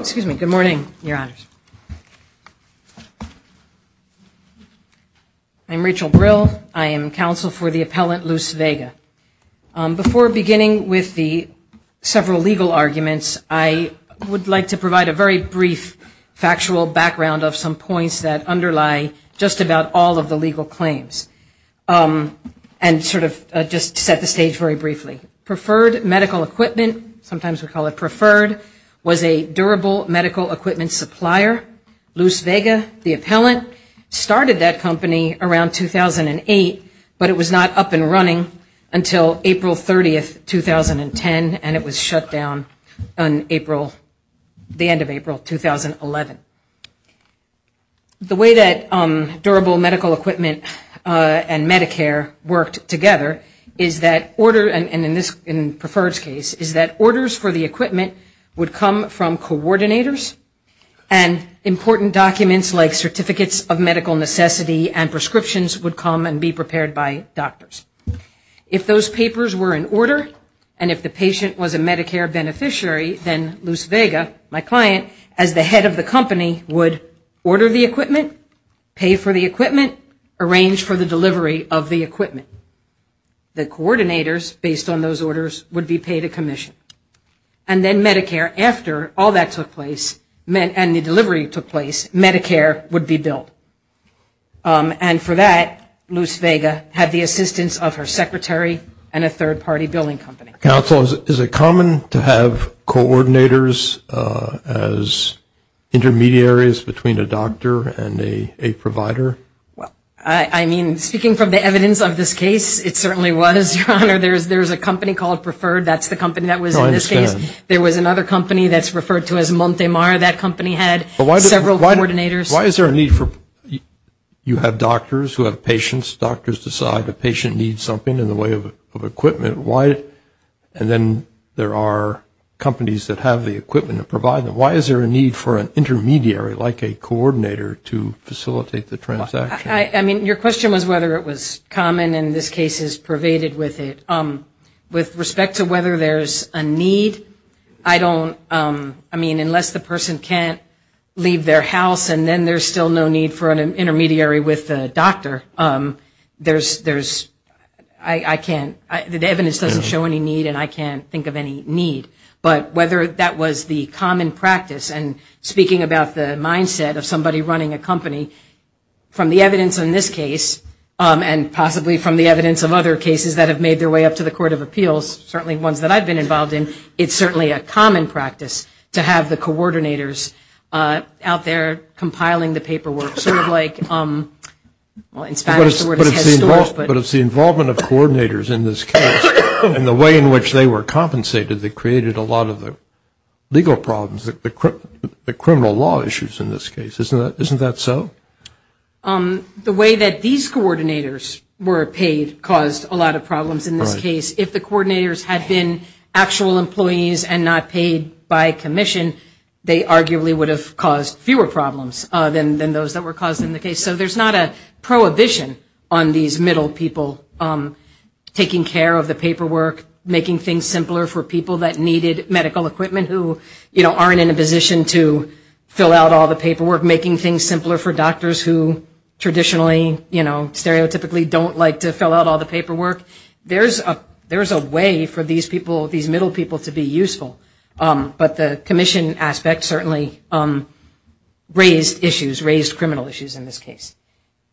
Excuse me. Good morning, Your Honors. I'm Rachel Brill. I am counsel for the appellant I would like to provide a very brief factual background of some points that underlie just about all of the legal claims. And sort of just set the stage very briefly. Preferred Medical Equipment, sometimes we call it Preferred, was a durable medical equipment supplier. Luce Vega, the appellant, started that company around 2008, but it was not up and running until April 30, 2010, and it was shut down on April, the end of April, 2011. The way that durable medical equipment and Medicare worked together is that order, and in Preferred's case, is that orders for the equipment would come from coordinators, and important documents like certificates of medical necessity and prescriptions would come and be prepared by doctors. If those papers were in order, and if the patient was a Medicare beneficiary, then Luce Vega, my client, as the head of the company, would order the equipment, pay for the equipment, arrange for the delivery of the equipment. The coordinators, based on those orders, would be paid a commission. And then Medicare, after all that took place, and the delivery took place, Medicare would be billed. And for that, Luce Vega had the assistance of her secretary and a third-party billing company. Counsel, is it common to have coordinators as intermediaries between a doctor and a provider? I mean, speaking from the evidence of this case, it certainly was, Your Honor. There's a company called Preferred, that's the company that was in this case. I understand. There was another company that's referred to as Montemar. That company had several coordinators. Why is there a need for, you have doctors who have patients, doctors decide a patient needs something in the way of equipment, and then there are companies that have the equipment to provide them. Why is there a need for an intermediary, like a coordinator, to facilitate the transaction? I mean, your question was whether it was common, and this case is pervaded with it. With respect to whether there's a need, I don't, I mean, unless the person can't leave their house and then there's still no need for an intermediary with the doctor, there's, I can't, the evidence doesn't show any need, and I can't think of any need. But whether that was the common practice, and speaking about the mindset of somebody running a company, from the evidence in this case, and possibly from the evidence of other cases that have made their way up to the Court of Appeals, certainly ones that I've been involved in, it's certainly a common practice to have the coordinators out there compiling the paperwork, sort of like, well, in Spanish the word is head stores, but But it's the involvement of coordinators in this case, and the way in which they were compensated that created a lot of the legal problems, the criminal law issues in this case. Isn't that so? The way that these coordinators were paid caused a lot of problems in this case. If the coordinators had been actual employees and not paid by commission, they arguably would have caused fewer problems than those that were caused in the case. So there's not a prohibition on these middle people taking care of the paperwork, making things simpler for people that needed medical equipment, who, you know, aren't in a position to fill out all the paperwork, making things simpler for doctors who traditionally, you know, stereotypically don't like to fill out all the paperwork. There's a way for these people, these middle people to be useful, but the commission aspect certainly raised issues, raised criminal issues in this case.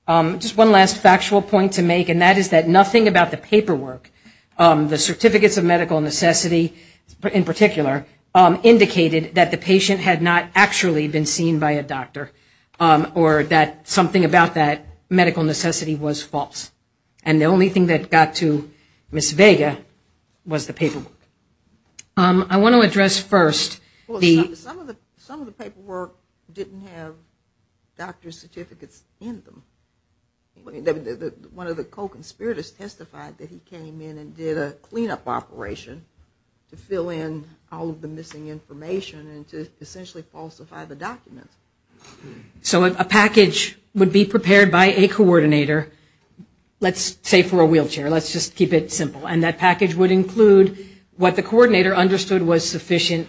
Just one last factual point to make, and that is that nothing about the paperwork, the Certificates of Medical Necessity, in particular, indicated that the patient had not actually been seen by a doctor, or that something about that medical necessity was false. And the only thing that got to Ms. Vega was the paperwork. I want to address first the... Some of the paperwork didn't have doctor's certificates in them. One of the co-conspirators testified that he came in and did a clean-up operation to fill in all of the missing information and to essentially falsify the documents. So if a package would be prepared by a coordinator, let's say for a wheelchair, let's just keep it simple, and that package would include what the coordinator understood was sufficient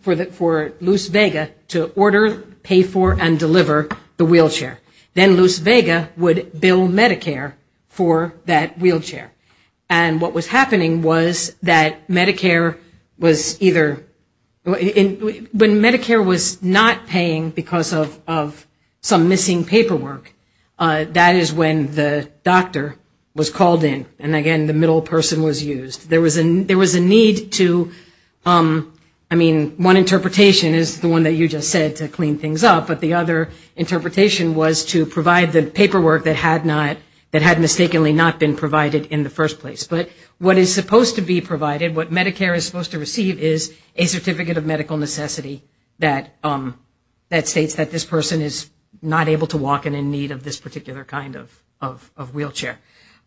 for Luce Vega to order, pay for, and deliver the wheelchair. Then Luce Vega would bill Medicare for that wheelchair. And what was happening was that Medicare was either... When Medicare was not paying because of some missing paperwork, that is when the doctor was called in. And again, the middle person was used. There was a need to... I mean, one interpretation is the one that you just said, to clean things up, but the other interpretation was to provide the paperwork that had not... That had mistakenly not been provided in the first place. But what is supposed to be provided, what Medicare is supposed to receive is a certificate of medical necessity that states that this person is not able to walk and in need of this particular kind of wheelchair.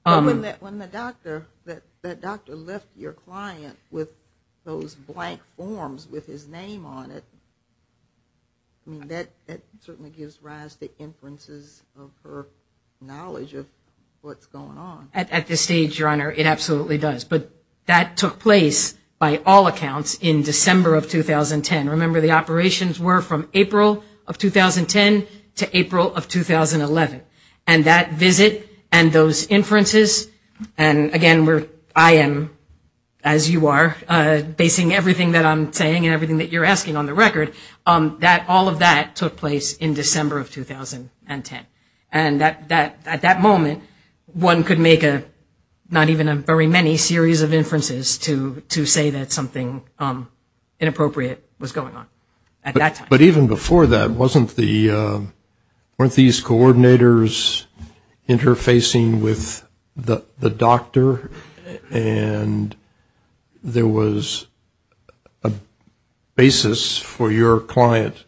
But when the doctor, that doctor left your client with those blank forms with his name on it, I mean, that certainly gives Raz the inferences of her knowledge of what's going on. At this stage, Your Honor, it absolutely does. But that took place, by all accounts, in December of 2010. Remember, the operations were from April of 2010 to April of 2011. And that visit and those inferences, and again, I am, as you are, basing everything that I'm saying and everything that you're asking on the record, that all of that took place in December of 2010. And at that moment, one could make not even a very many series of inferences to say that something inappropriate was going on at that time. But even before that, weren't these coordinators interfacing with the doctor and there was a basis for your client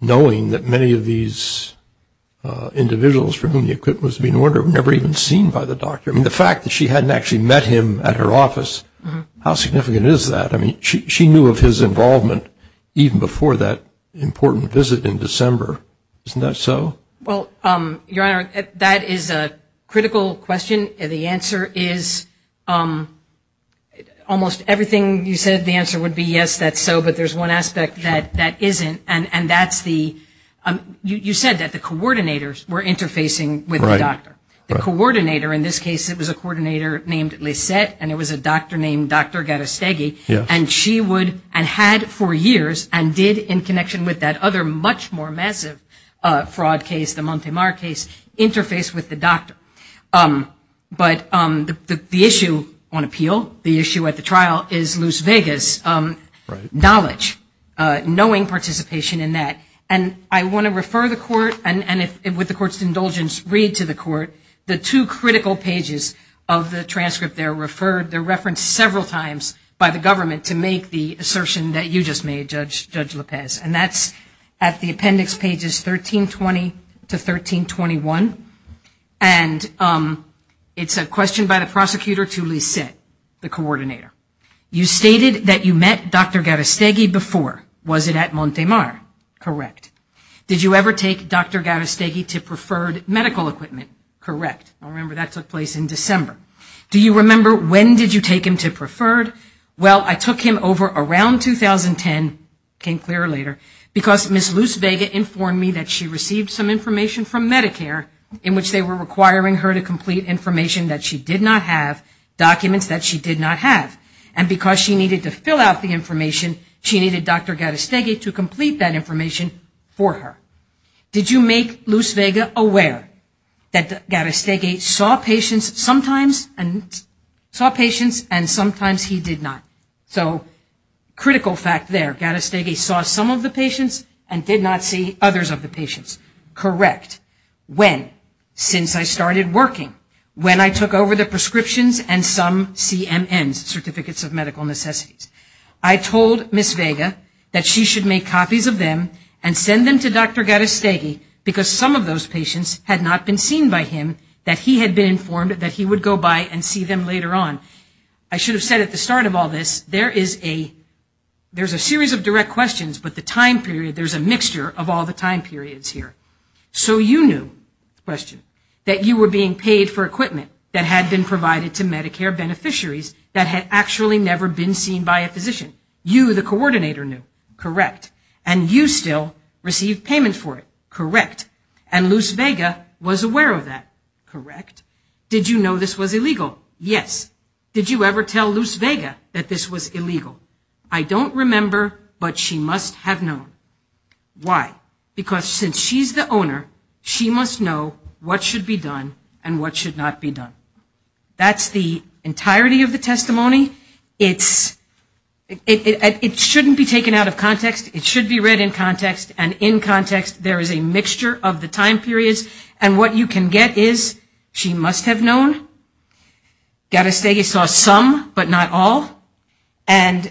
knowing that many of these individuals for whom the equipment was being ordered were never even seen by the doctor? I mean, the fact that she hadn't actually met him at her office, how significant is that? I mean, she knew of his involvement even before that important visit in December. Isn't that so? Well, Your Honor, that is a critical question. The answer is almost everything that I can answer. You said the answer would be yes, that's so, but there's one aspect that isn't, and that's the, you said that the coordinators were interfacing with the doctor. The coordinator in this case, it was a coordinator named Lisette, and it was a doctor named Dr. Garastegui, and she would, and had for years, and did in connection with that other much more massive fraud case, the Montemar case, interface with the doctor. But the issue on appeal, the issue at the trial is Luz Vegas, knowledge, knowing participation in that, and I want to refer the court, and with the court's indulgence, read to the court the two critical pages of the transcript there referred, they're referenced several times by the government to make the assertion that you just made, Judge Lopez, and that's at the appendix pages 1320 to 1321, and it's a question by the prosecutor to Lisette, the coordinator. You stated that you met Dr. Garastegui before. Was it at Montemar? Correct. Did you ever take Dr. Garastegui to Preferred Medical Equipment? Correct. I remember that took place in December. Do you remember when did you take him to Preferred? Well, I took him over around 2010, it became clear to me that Luz Vegas informed me that she received some information from Medicare in which they were requiring her to complete information that she did not have, documents that she did not have, and because she needed to fill out the information, she needed Dr. Garastegui to complete that information for her. Did you make Luz Vegas aware that Garastegui saw patients sometimes and sometimes he did not? So critical fact there, Garastegui saw some of the patients and did not see others of the patients. Correct. When? Since I started working, when I took over the prescriptions and some CMNs, Certificates of Medical Necessities. I told Ms. Vega that she should make copies of them and send them to Dr. Garastegui because some of those patients had not been seen by him, that he had been informed that he would go by and see them later on. I should have said at the start of all this, there is a series of direct questions but the time period, there is a mixture of all the time periods here. So you knew, question, that you were being paid for equipment that had been provided to Medicare beneficiaries that had actually never been seen by a physician. You, the coordinator knew. Correct. And you still received payment for it. Correct. And Luz Vega was aware of that. Correct. Did you know this was illegal? Yes. Did you ever tell Luz Vega that this was illegal? I don't remember, but she must have known. Why? Because since she's the owner, she must know what should be done and what should not be done. That's the entirety of the testimony. It shouldn't be taken out of context. It should be read in context and in context. There is a mixture of the time periods and what you can get is, she must have known. Garastegui saw some, but not all. And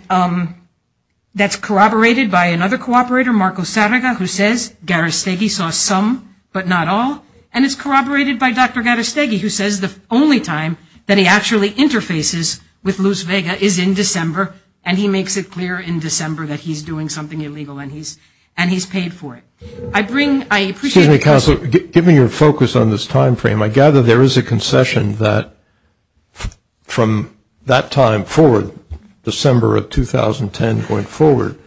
that's corroborated by another cooperator, Marco Sarraga, who says Garastegui saw some, but not all. And it's corroborated by Dr. Garastegui who says the only time that he actually interfaces with Luz Vega is in December and he makes it clear in December that he's doing something illegal and he's paid for it. I bring, I appreciate the question. Excuse me, counsel. Give me your focus on this time frame. I gather there is a concession that from that time forward, December of 2010 going forward,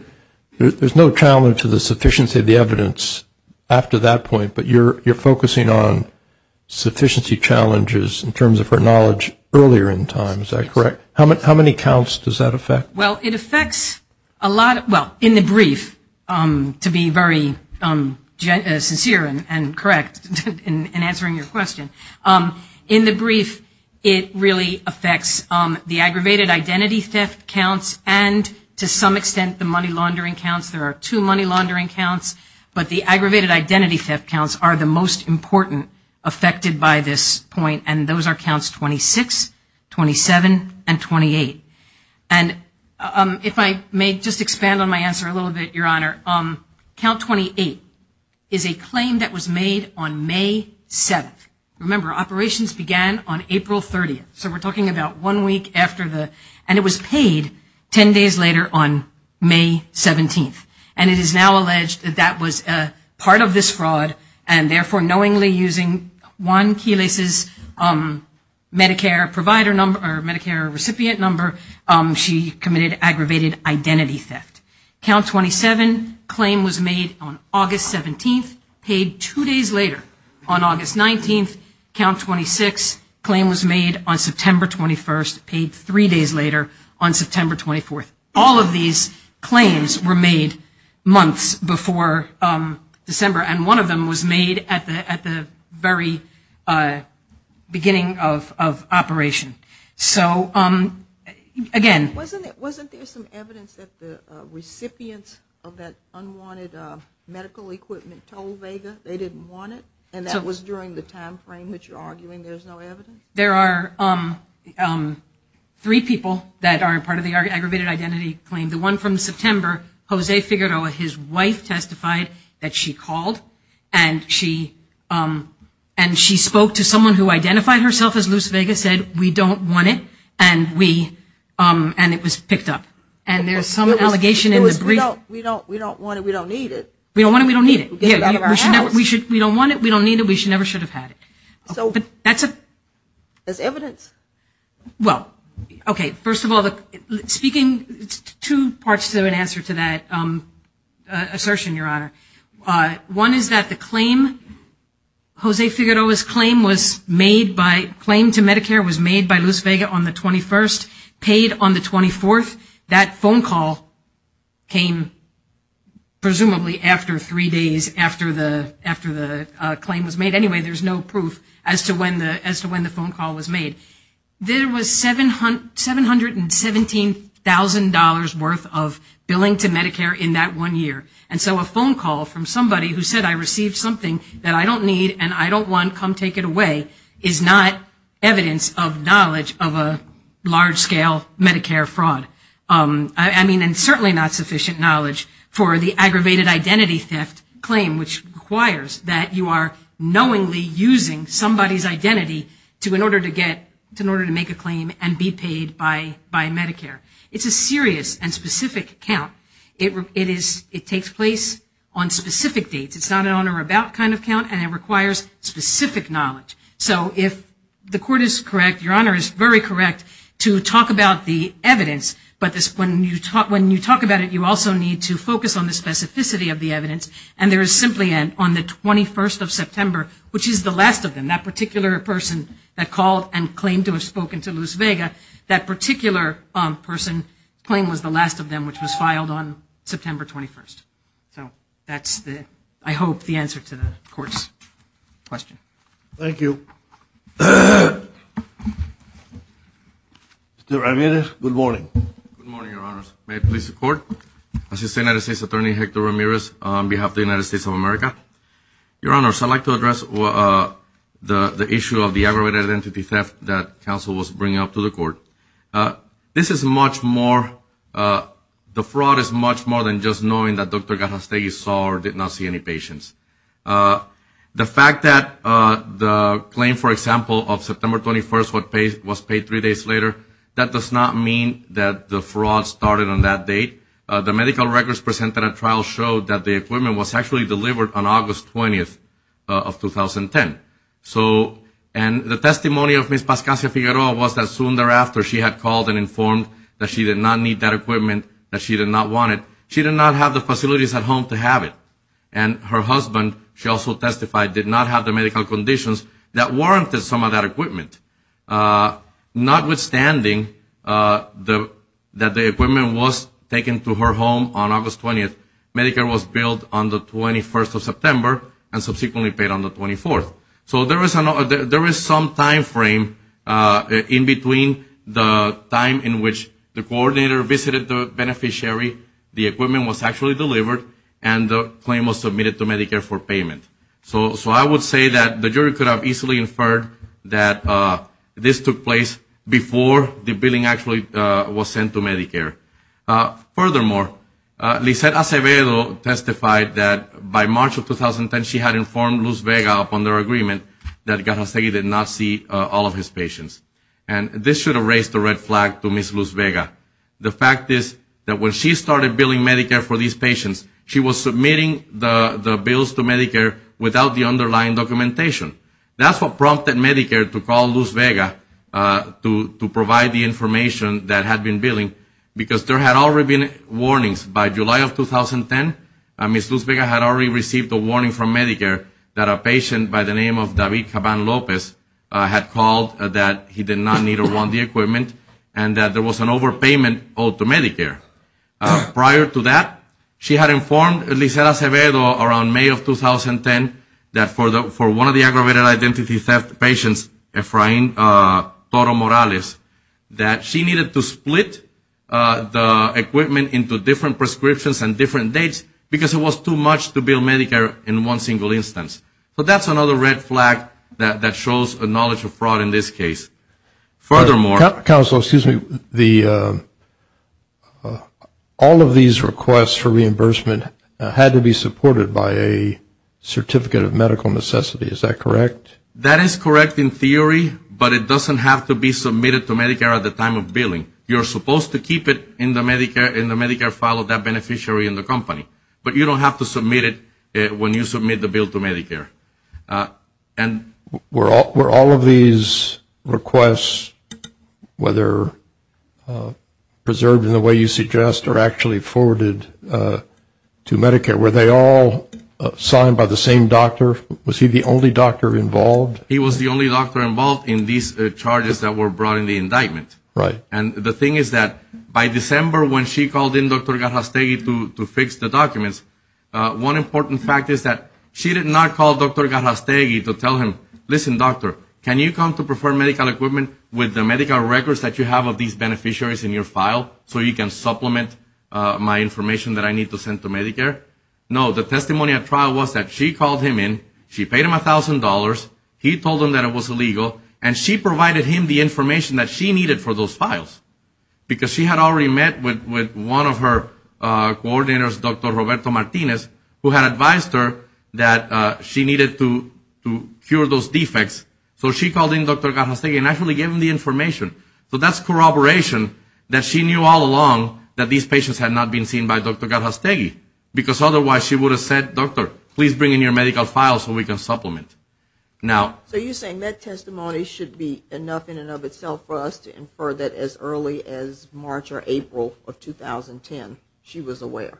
there's no challenge to the sufficiency of the evidence after that point, but you're focusing on sufficiency challenges in terms of her knowledge earlier in time. Is that correct? How many counts does that affect? Well, it affects a lot, well, in the brief, it really affects the aggravated identity theft counts and to some extent the money laundering counts. There are two money laundering counts, but the aggravated identity theft counts are the most important affected by this point. And those are counts 26, 27, and 28. And if I may just expand on my answer a little bit, Your Honor, count 28 is a claim that was made on May 7th. Remember, operations began on April 30th. So we're talking about one week after the, and it was paid 10 days later on May 17th. And it is now alleged that that was a part of this fraud and therefore knowingly using Juan Quiles's Medicare provider number or Medicare recipient number, she committed aggravated identity theft. Count 27 claim was made on August 17th, paid two days later on August 19th. Count 26 claim was made on September 21st, paid three days later on September 24th. All of these claims were made months before December and one of them was made at the very beginning of operation. So, again... Medical equipment told Vega they didn't want it and that was during the time frame which you're arguing there's no evidence? There are three people that are a part of the aggravated identity claim. The one from September, Jose Figueroa, his wife testified that she called and she spoke to someone who identified herself as Luz Vega, said, we don't want it, and it was picked up. And there's some allegation in the brief... We don't want it, we don't need it. We don't want it, we don't need it. We don't want it, we don't need it, we never should have had it. So, there's evidence? Well, okay, first of all, speaking, two parts to an answer to that assertion, Your Honor. One is that the claim, Jose Figueroa's claim was made by, claim to Medicare was made by him, presumably after three days after the claim was made. Anyway, there's no proof as to when the phone call was made. There was $717,000 worth of billing to Medicare in that one year. And so, a phone call from somebody who said, I received something that I don't need and I don't want, come take it away, is not evidence of knowledge of a large-scale Medicare fraud. I mean, and certainly not sufficient knowledge for the aggravated identity theft claim, which requires that you are knowingly using somebody's identity to, in order to get, in order to make a claim and be paid by Medicare. It's a serious and specific count. It takes place on specific dates. It's not an on or about kind of count, and it requires specific knowledge. So if the court is correct, Your Honor is very correct to talk about the evidence, but this, when you talk, when you talk about it, you also need to focus on the specificity of the evidence. And there is simply an, on the 21st of September, which is the last of them, that particular person that called and claimed to have spoken to Luz Vega, that particular person, claim was the last of them, which was filed on September 21st. So that's the, I hope, the answer to the court's question. Thank you. Mr. Ramirez, good morning. Good morning, Your Honors. May it please the Court? This is United States Attorney Hector Ramirez on behalf of the United States of America. Your Honors, I'd like to address the issue of the aggravated identity theft that counsel was bringing up to the Court. This is much more, the fraud is much more than just knowing that Dr. Garrastegui saw or did not see any patients. The fact that the claim, for example, of September 21st was paid three days later, that does not mean that the fraud started on that date. The medical records presented at trial showed that the equipment was actually delivered on August 20th, after she had called and informed that she did not need that equipment, that she did not want it. She did not have the facilities at home to have it. And her husband, she also testified, did not have the medical conditions that warranted some of that equipment. Notwithstanding that the equipment was taken to her home on August 20th, Medicare was billed on the 21st of September and subsequently paid on the 24th. So there is some timeframe in between the time in which the coordinator visited the beneficiary, the equipment was actually delivered, and the claim was submitted to Medicare for payment. So I would say that the jury could have easily inferred that this took place before the billing actually was sent to Medicare. Furthermore, Lisette Acevedo testified that by March of 2010 she had informed Luz Vega upon their agreement that Garzasegui did not see all of his patients. And this should have raised the red flag to Ms. Luz Vega. The fact is that when she started billing Medicare for these patients, she was submitting the bills to Medicare without the underlying documentation. That's what prompted Medicare to call Luz Vega to provide the information that had been billing, because there had already been warnings. By July of 2010, Ms. Luz Vega had already received a warning from Medicare that a patient by the name of David Caban Lopez had called that he did not need or want the equipment, and that there was an overpayment owed to Medicare. Prior to that, she had informed Lisette Acevedo around May of 2010 that for one of the aggravated identity theft patients, Efrain Toro Morales, that she needed to split the equipment into different prescriptions and different dates, because it was too much to bill Medicare in one single instance. So that's another red flag that shows a knowledge of fraud in this case. Furthermore… Counsel, excuse me. All of these requests for reimbursement had to be supported by a certificate of medical necessity, is that correct? That is correct in theory, but it doesn't have to be submitted to Medicare at the time of billing. You're supposed to keep it in the Medicare file of that beneficiary in the company, but you don't have to submit it when you submit the bill to Medicare. Were all of these requests, whether preserved in the way you suggest or actually forwarded to Medicare, were they all signed by the same doctor? Was he the only doctor involved? He was the only doctor involved in these charges that were brought in the indictment. And the thing is that by December when she called in Dr. Garrastegui to fix the documents, one important fact is that she did not call Dr. Garrastegui to tell him, listen doctor, can you come to Preferred Medical Equipment with the medical records that you have of these beneficiaries in your file so you can supplement my information that I need to send to Medicare? No, the testimony at trial was that she called him in, she paid him $1,000, he told him that it was illegal, and she provided him the information that she needed for those files because she had already met with one of her coordinators, Dr. Roberto Martinez, who had advised her that she needed to cure those defects. So she called in Dr. Garrastegui and actually gave him the information. So that's corroboration that she knew all along that these patients had not been seen by Dr. Garrastegui because otherwise she would have said, doctor, please bring in your medical files so we can supplement. So you're saying that testimony should be enough in and of itself for us to infer that as early as March or April of 2010 she was aware,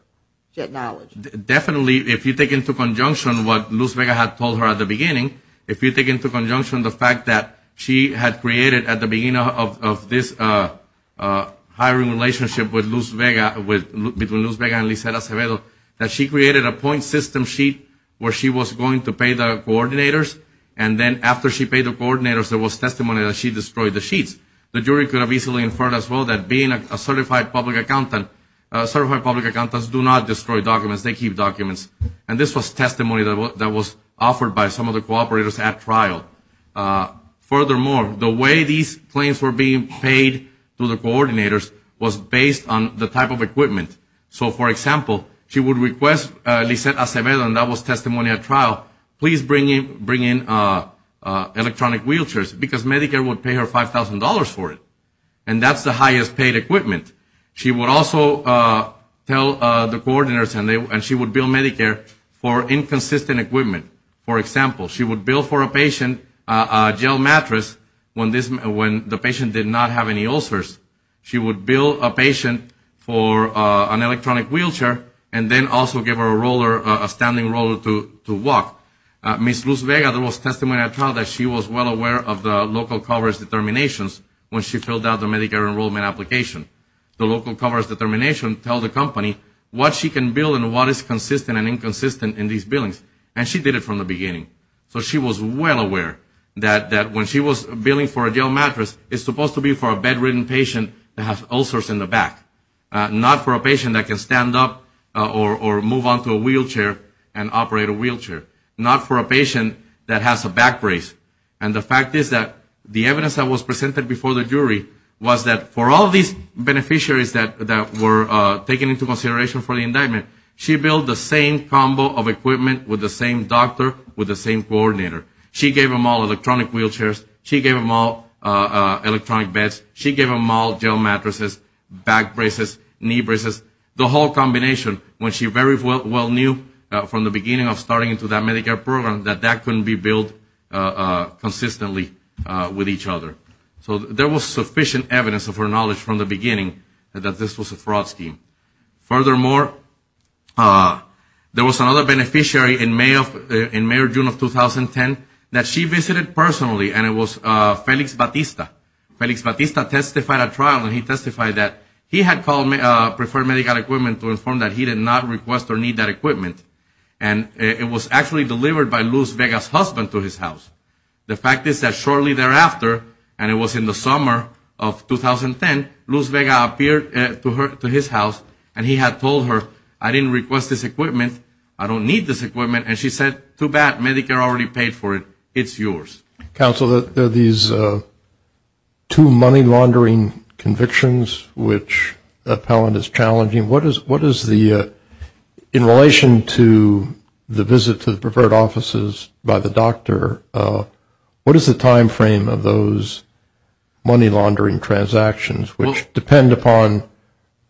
she had knowledge? Definitely if you take into conjunction what Luz Vega had told her at the beginning, if you take into conjunction the fact that she had created at the beginning of this hiring relationship between Luz Vega and Lisa Acevedo, that she created a point system sheet where she was going to pay the coordinators, and then after she paid the coordinators there was testimony that she destroyed the sheets. The jury could have easily inferred as well that being a certified public accountant, certified public accountants do not destroy documents, they keep documents. And this was testimony that was offered by some of the cooperators at trial. Furthermore, the way these claims were being paid to the coordinators was based on the type of equipment. So for example, she would request Lisa Acevedo, and that was testimony at trial, please bring in electronic wheelchairs because Medicare would pay her $5,000 for it. And that's the highest paid equipment. She would also tell the coordinators and she would bill Medicare for inconsistent equipment. For example, she would bill for a patient a gel mattress when the patient did not have any ulcers. She would bill a patient for an electronic wheelchair and then also give her a standing roller to walk. Ms. Luz Vega, there was testimony at trial that she was well aware of the local coverage determinations when she filled out the Medicare enrollment application. The local coverage determination tells the company what she can bill and what is consistent and inconsistent in these billings. And she did it from the beginning. So she was well aware that when she was billing for a gel mattress, it's supposed to be for a bedridden patient that has ulcers in the back, not for a patient that can stand up or move onto a wheelchair and operate a wheelchair, not for a patient that has a back brace. And the fact is that the evidence that was presented before the jury was that for all these beneficiaries that were taken into consideration for the indictment, she billed the same combo of equipment with the same doctor, with the same coordinator. She gave them all electronic wheelchairs. She gave them all electronic beds. She gave them all gel mattresses, back braces, knee braces, the whole combination when she very well knew from the beginning of starting into that Medicare program that that couldn't be billed consistently with each other. So there was sufficient evidence of her knowledge from the beginning that this was a fraud scheme. Furthermore, there was another beneficiary in May or June of 2010 that she visited personally, and it was Felix Batista. Felix Batista testified at trial and he testified that he had preferred Medicare equipment to inform that he did not request or need that equipment. And it was actually delivered by Luz Vega's husband to his house. The fact is that shortly thereafter, and it was in the summer of 2010, Luz Vega appeared to his house and he had told her, I didn't request this equipment, I don't need this equipment, and she said, too bad, Medicare already paid for it, it's yours. Counsel, there are these two money laundering convictions which Appellant is challenging. What is the, in relation to the visit to the preferred offices by the doctor, what is the time frame of those money laundering transactions, which depend upon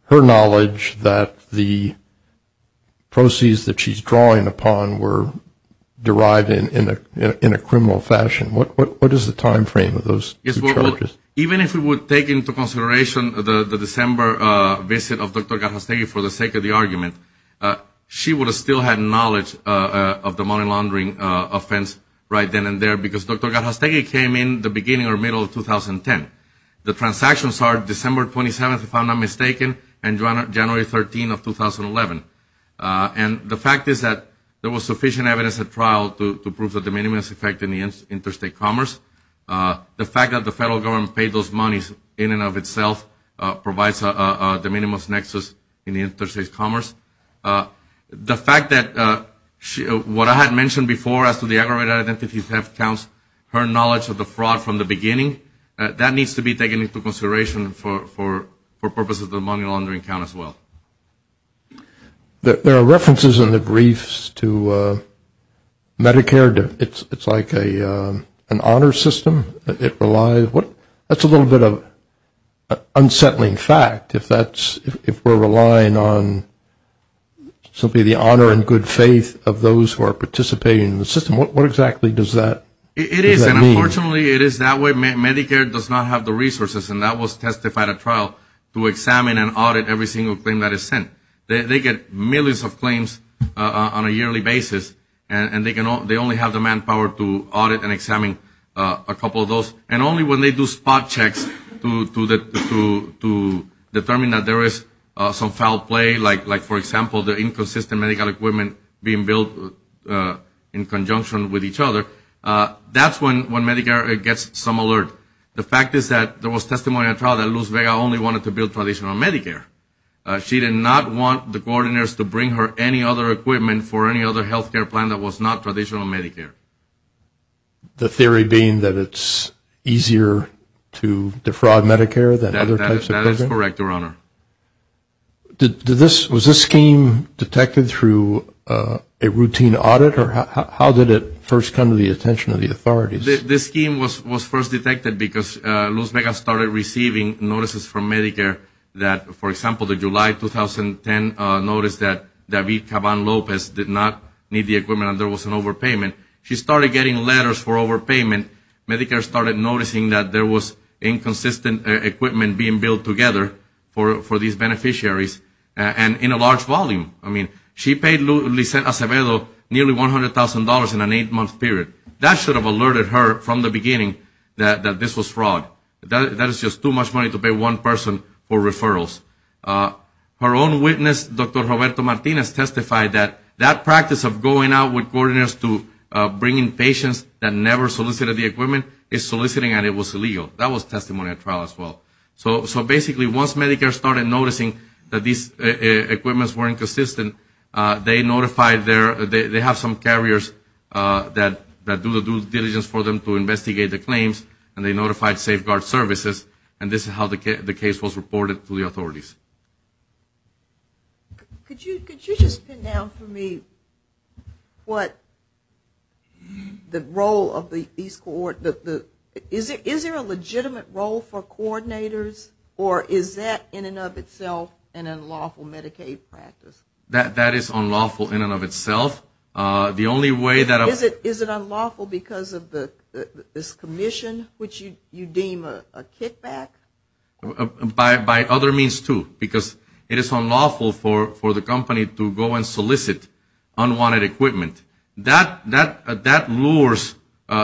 her knowledge that the proceeds that she's drawing upon were derived in a criminal fashion? What is the time frame of those two charges? Even if we would take into consideration the December visit of Dr. Garjastegui for the sake of the argument, she would have still had knowledge of the money laundering offense right then and there, because Dr. Garjastegui came in the beginning or middle of 2010. The transactions are December 27th, if I'm not mistaken, and January 13th of 2011. And the fact is that there was sufficient evidence at trial to prove the de minimis effect in the interstate commerce. The fact that the federal government paid those monies in and of itself provides a de minimis nexus in the interstate commerce. The fact that what I had mentioned before as to the aggravated identity theft counts, her knowledge of the fraud from the beginning, that needs to be taken into consideration for purposes of the money laundering count as well. There are references in the briefs to Medicare. It's like an honor system. It relies, that's a little bit of unsettling fact, if we're relying on simply the honor and good faith of those who are participating in the system. What exactly does that mean? It is, and unfortunately it is that way. Medicare does not have the resources, and that was testified at trial, to examine and audit every single claim that is sent. They get millions of claims on a yearly basis, and they only have the manpower to audit and examine a couple of those, and only when they do spot checks to determine that there is some foul play, like for example the inconsistent medical equipment being built in conjunction with each other, that's when Medicare gets some alert. The fact is that there was testimony at trial that Luz Vega only wanted to build traditional Medicare. She did not want the coordinators to bring her any other equipment for any other health care plan that was not traditional Medicare. The theory being that it's easier to defraud Medicare than other types of programs? That is correct, Your Honor. Was this scheme detected through a routine audit, or how did it first come to the attention of the authorities? This scheme was first detected because Luz Vega started receiving notices from Medicare that, for example, the July 2010 notice that David Caban Lopez did not need the equipment and there was an overpayment, she started getting letters for overpayment. Medicare started noticing that there was inconsistent equipment being built together for these beneficiaries and in a large volume. I mean, she paid Luz Vega nearly $100,000 in an eight-month period. That should have alerted her from the beginning that this was fraud. That is just too much money to pay one person for referrals. Her own witness, Dr. Roberto Martinez, testified that that practice of going out with coordinators to bring in patients that never solicited the equipment is soliciting and it was illegal. That was testimony at trial as well. So basically once Medicare started noticing that these equipments were inconsistent, they have some carriers that do the due diligence for them to investigate the claims and they receive. Could you just pin down for me what the role of these, is there a legitimate role for coordinators or is that in and of itself an unlawful Medicaid practice? That is unlawful in and of itself. Is it unlawful because of this commission, which you deem a kickback? By other means, too, because it is unlawful for the company to go and solicit unwanted equipment. That lures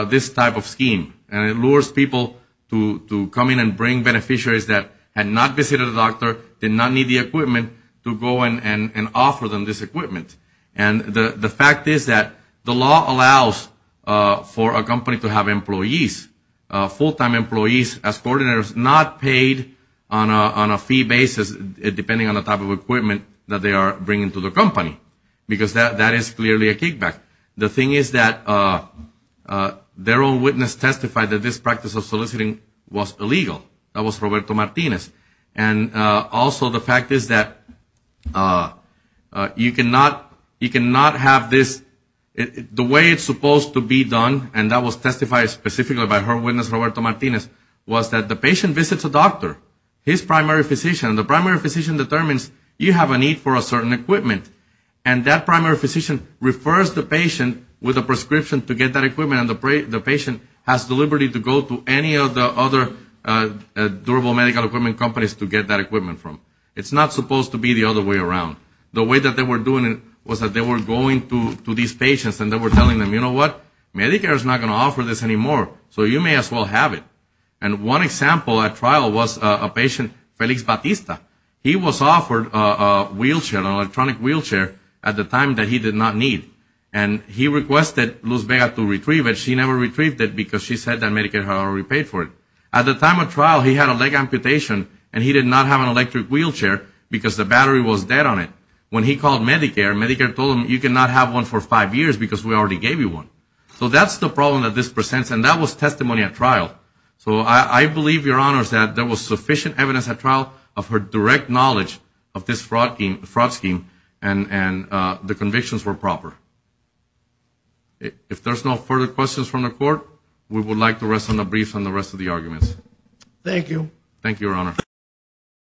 this type of scheme and it lures people to come in and bring beneficiaries that had not visited a doctor, did not need the equipment, to go and offer them this equipment. The fact is that the law allows for a company to have employees, full-time employees as well, not paid on a fee basis, depending on the type of equipment that they are bringing to the company, because that is clearly a kickback. The thing is that their own witness testified that this practice of soliciting was illegal. That was Roberto Martinez. And also the fact is that you cannot have this, the way it is supposed to be done, and that was testified specifically by her witness, Roberto Martinez, was that the patient visits a doctor, his primary physician, and the primary physician determines you have a need for a certain equipment. And that primary physician refers the patient with a prescription to get that equipment and the patient has the liberty to go to any of the other durable medical equipment companies to get that equipment from. It's not supposed to be the other way around. The way that they were doing it was that they were going to these patients and they were telling them, you know what, Medicare is not going to offer this anymore, so you may as well have it. And one example at trial was a patient, Felix Batista. He was offered a wheelchair, an electronic wheelchair, at the time that he did not need. And he requested Luz Vega to retrieve it. She never retrieved it because she said that Medicare had already paid for it. At the time of trial, he had a leg amputation and he did not have an electric wheelchair because the battery was dead on it. When he called Medicare, Medicare told him, you cannot have one for five years because we already gave you one. So that's the problem that this presents and that was testimony at trial. So I believe, Your Honor, that there was sufficient evidence at trial of her direct knowledge of this fraud scheme and the convictions were proper. If there's no further questions from the Court, we would like to rest on the briefs on the rest of the arguments. Thank you. Thank you, Your Honor.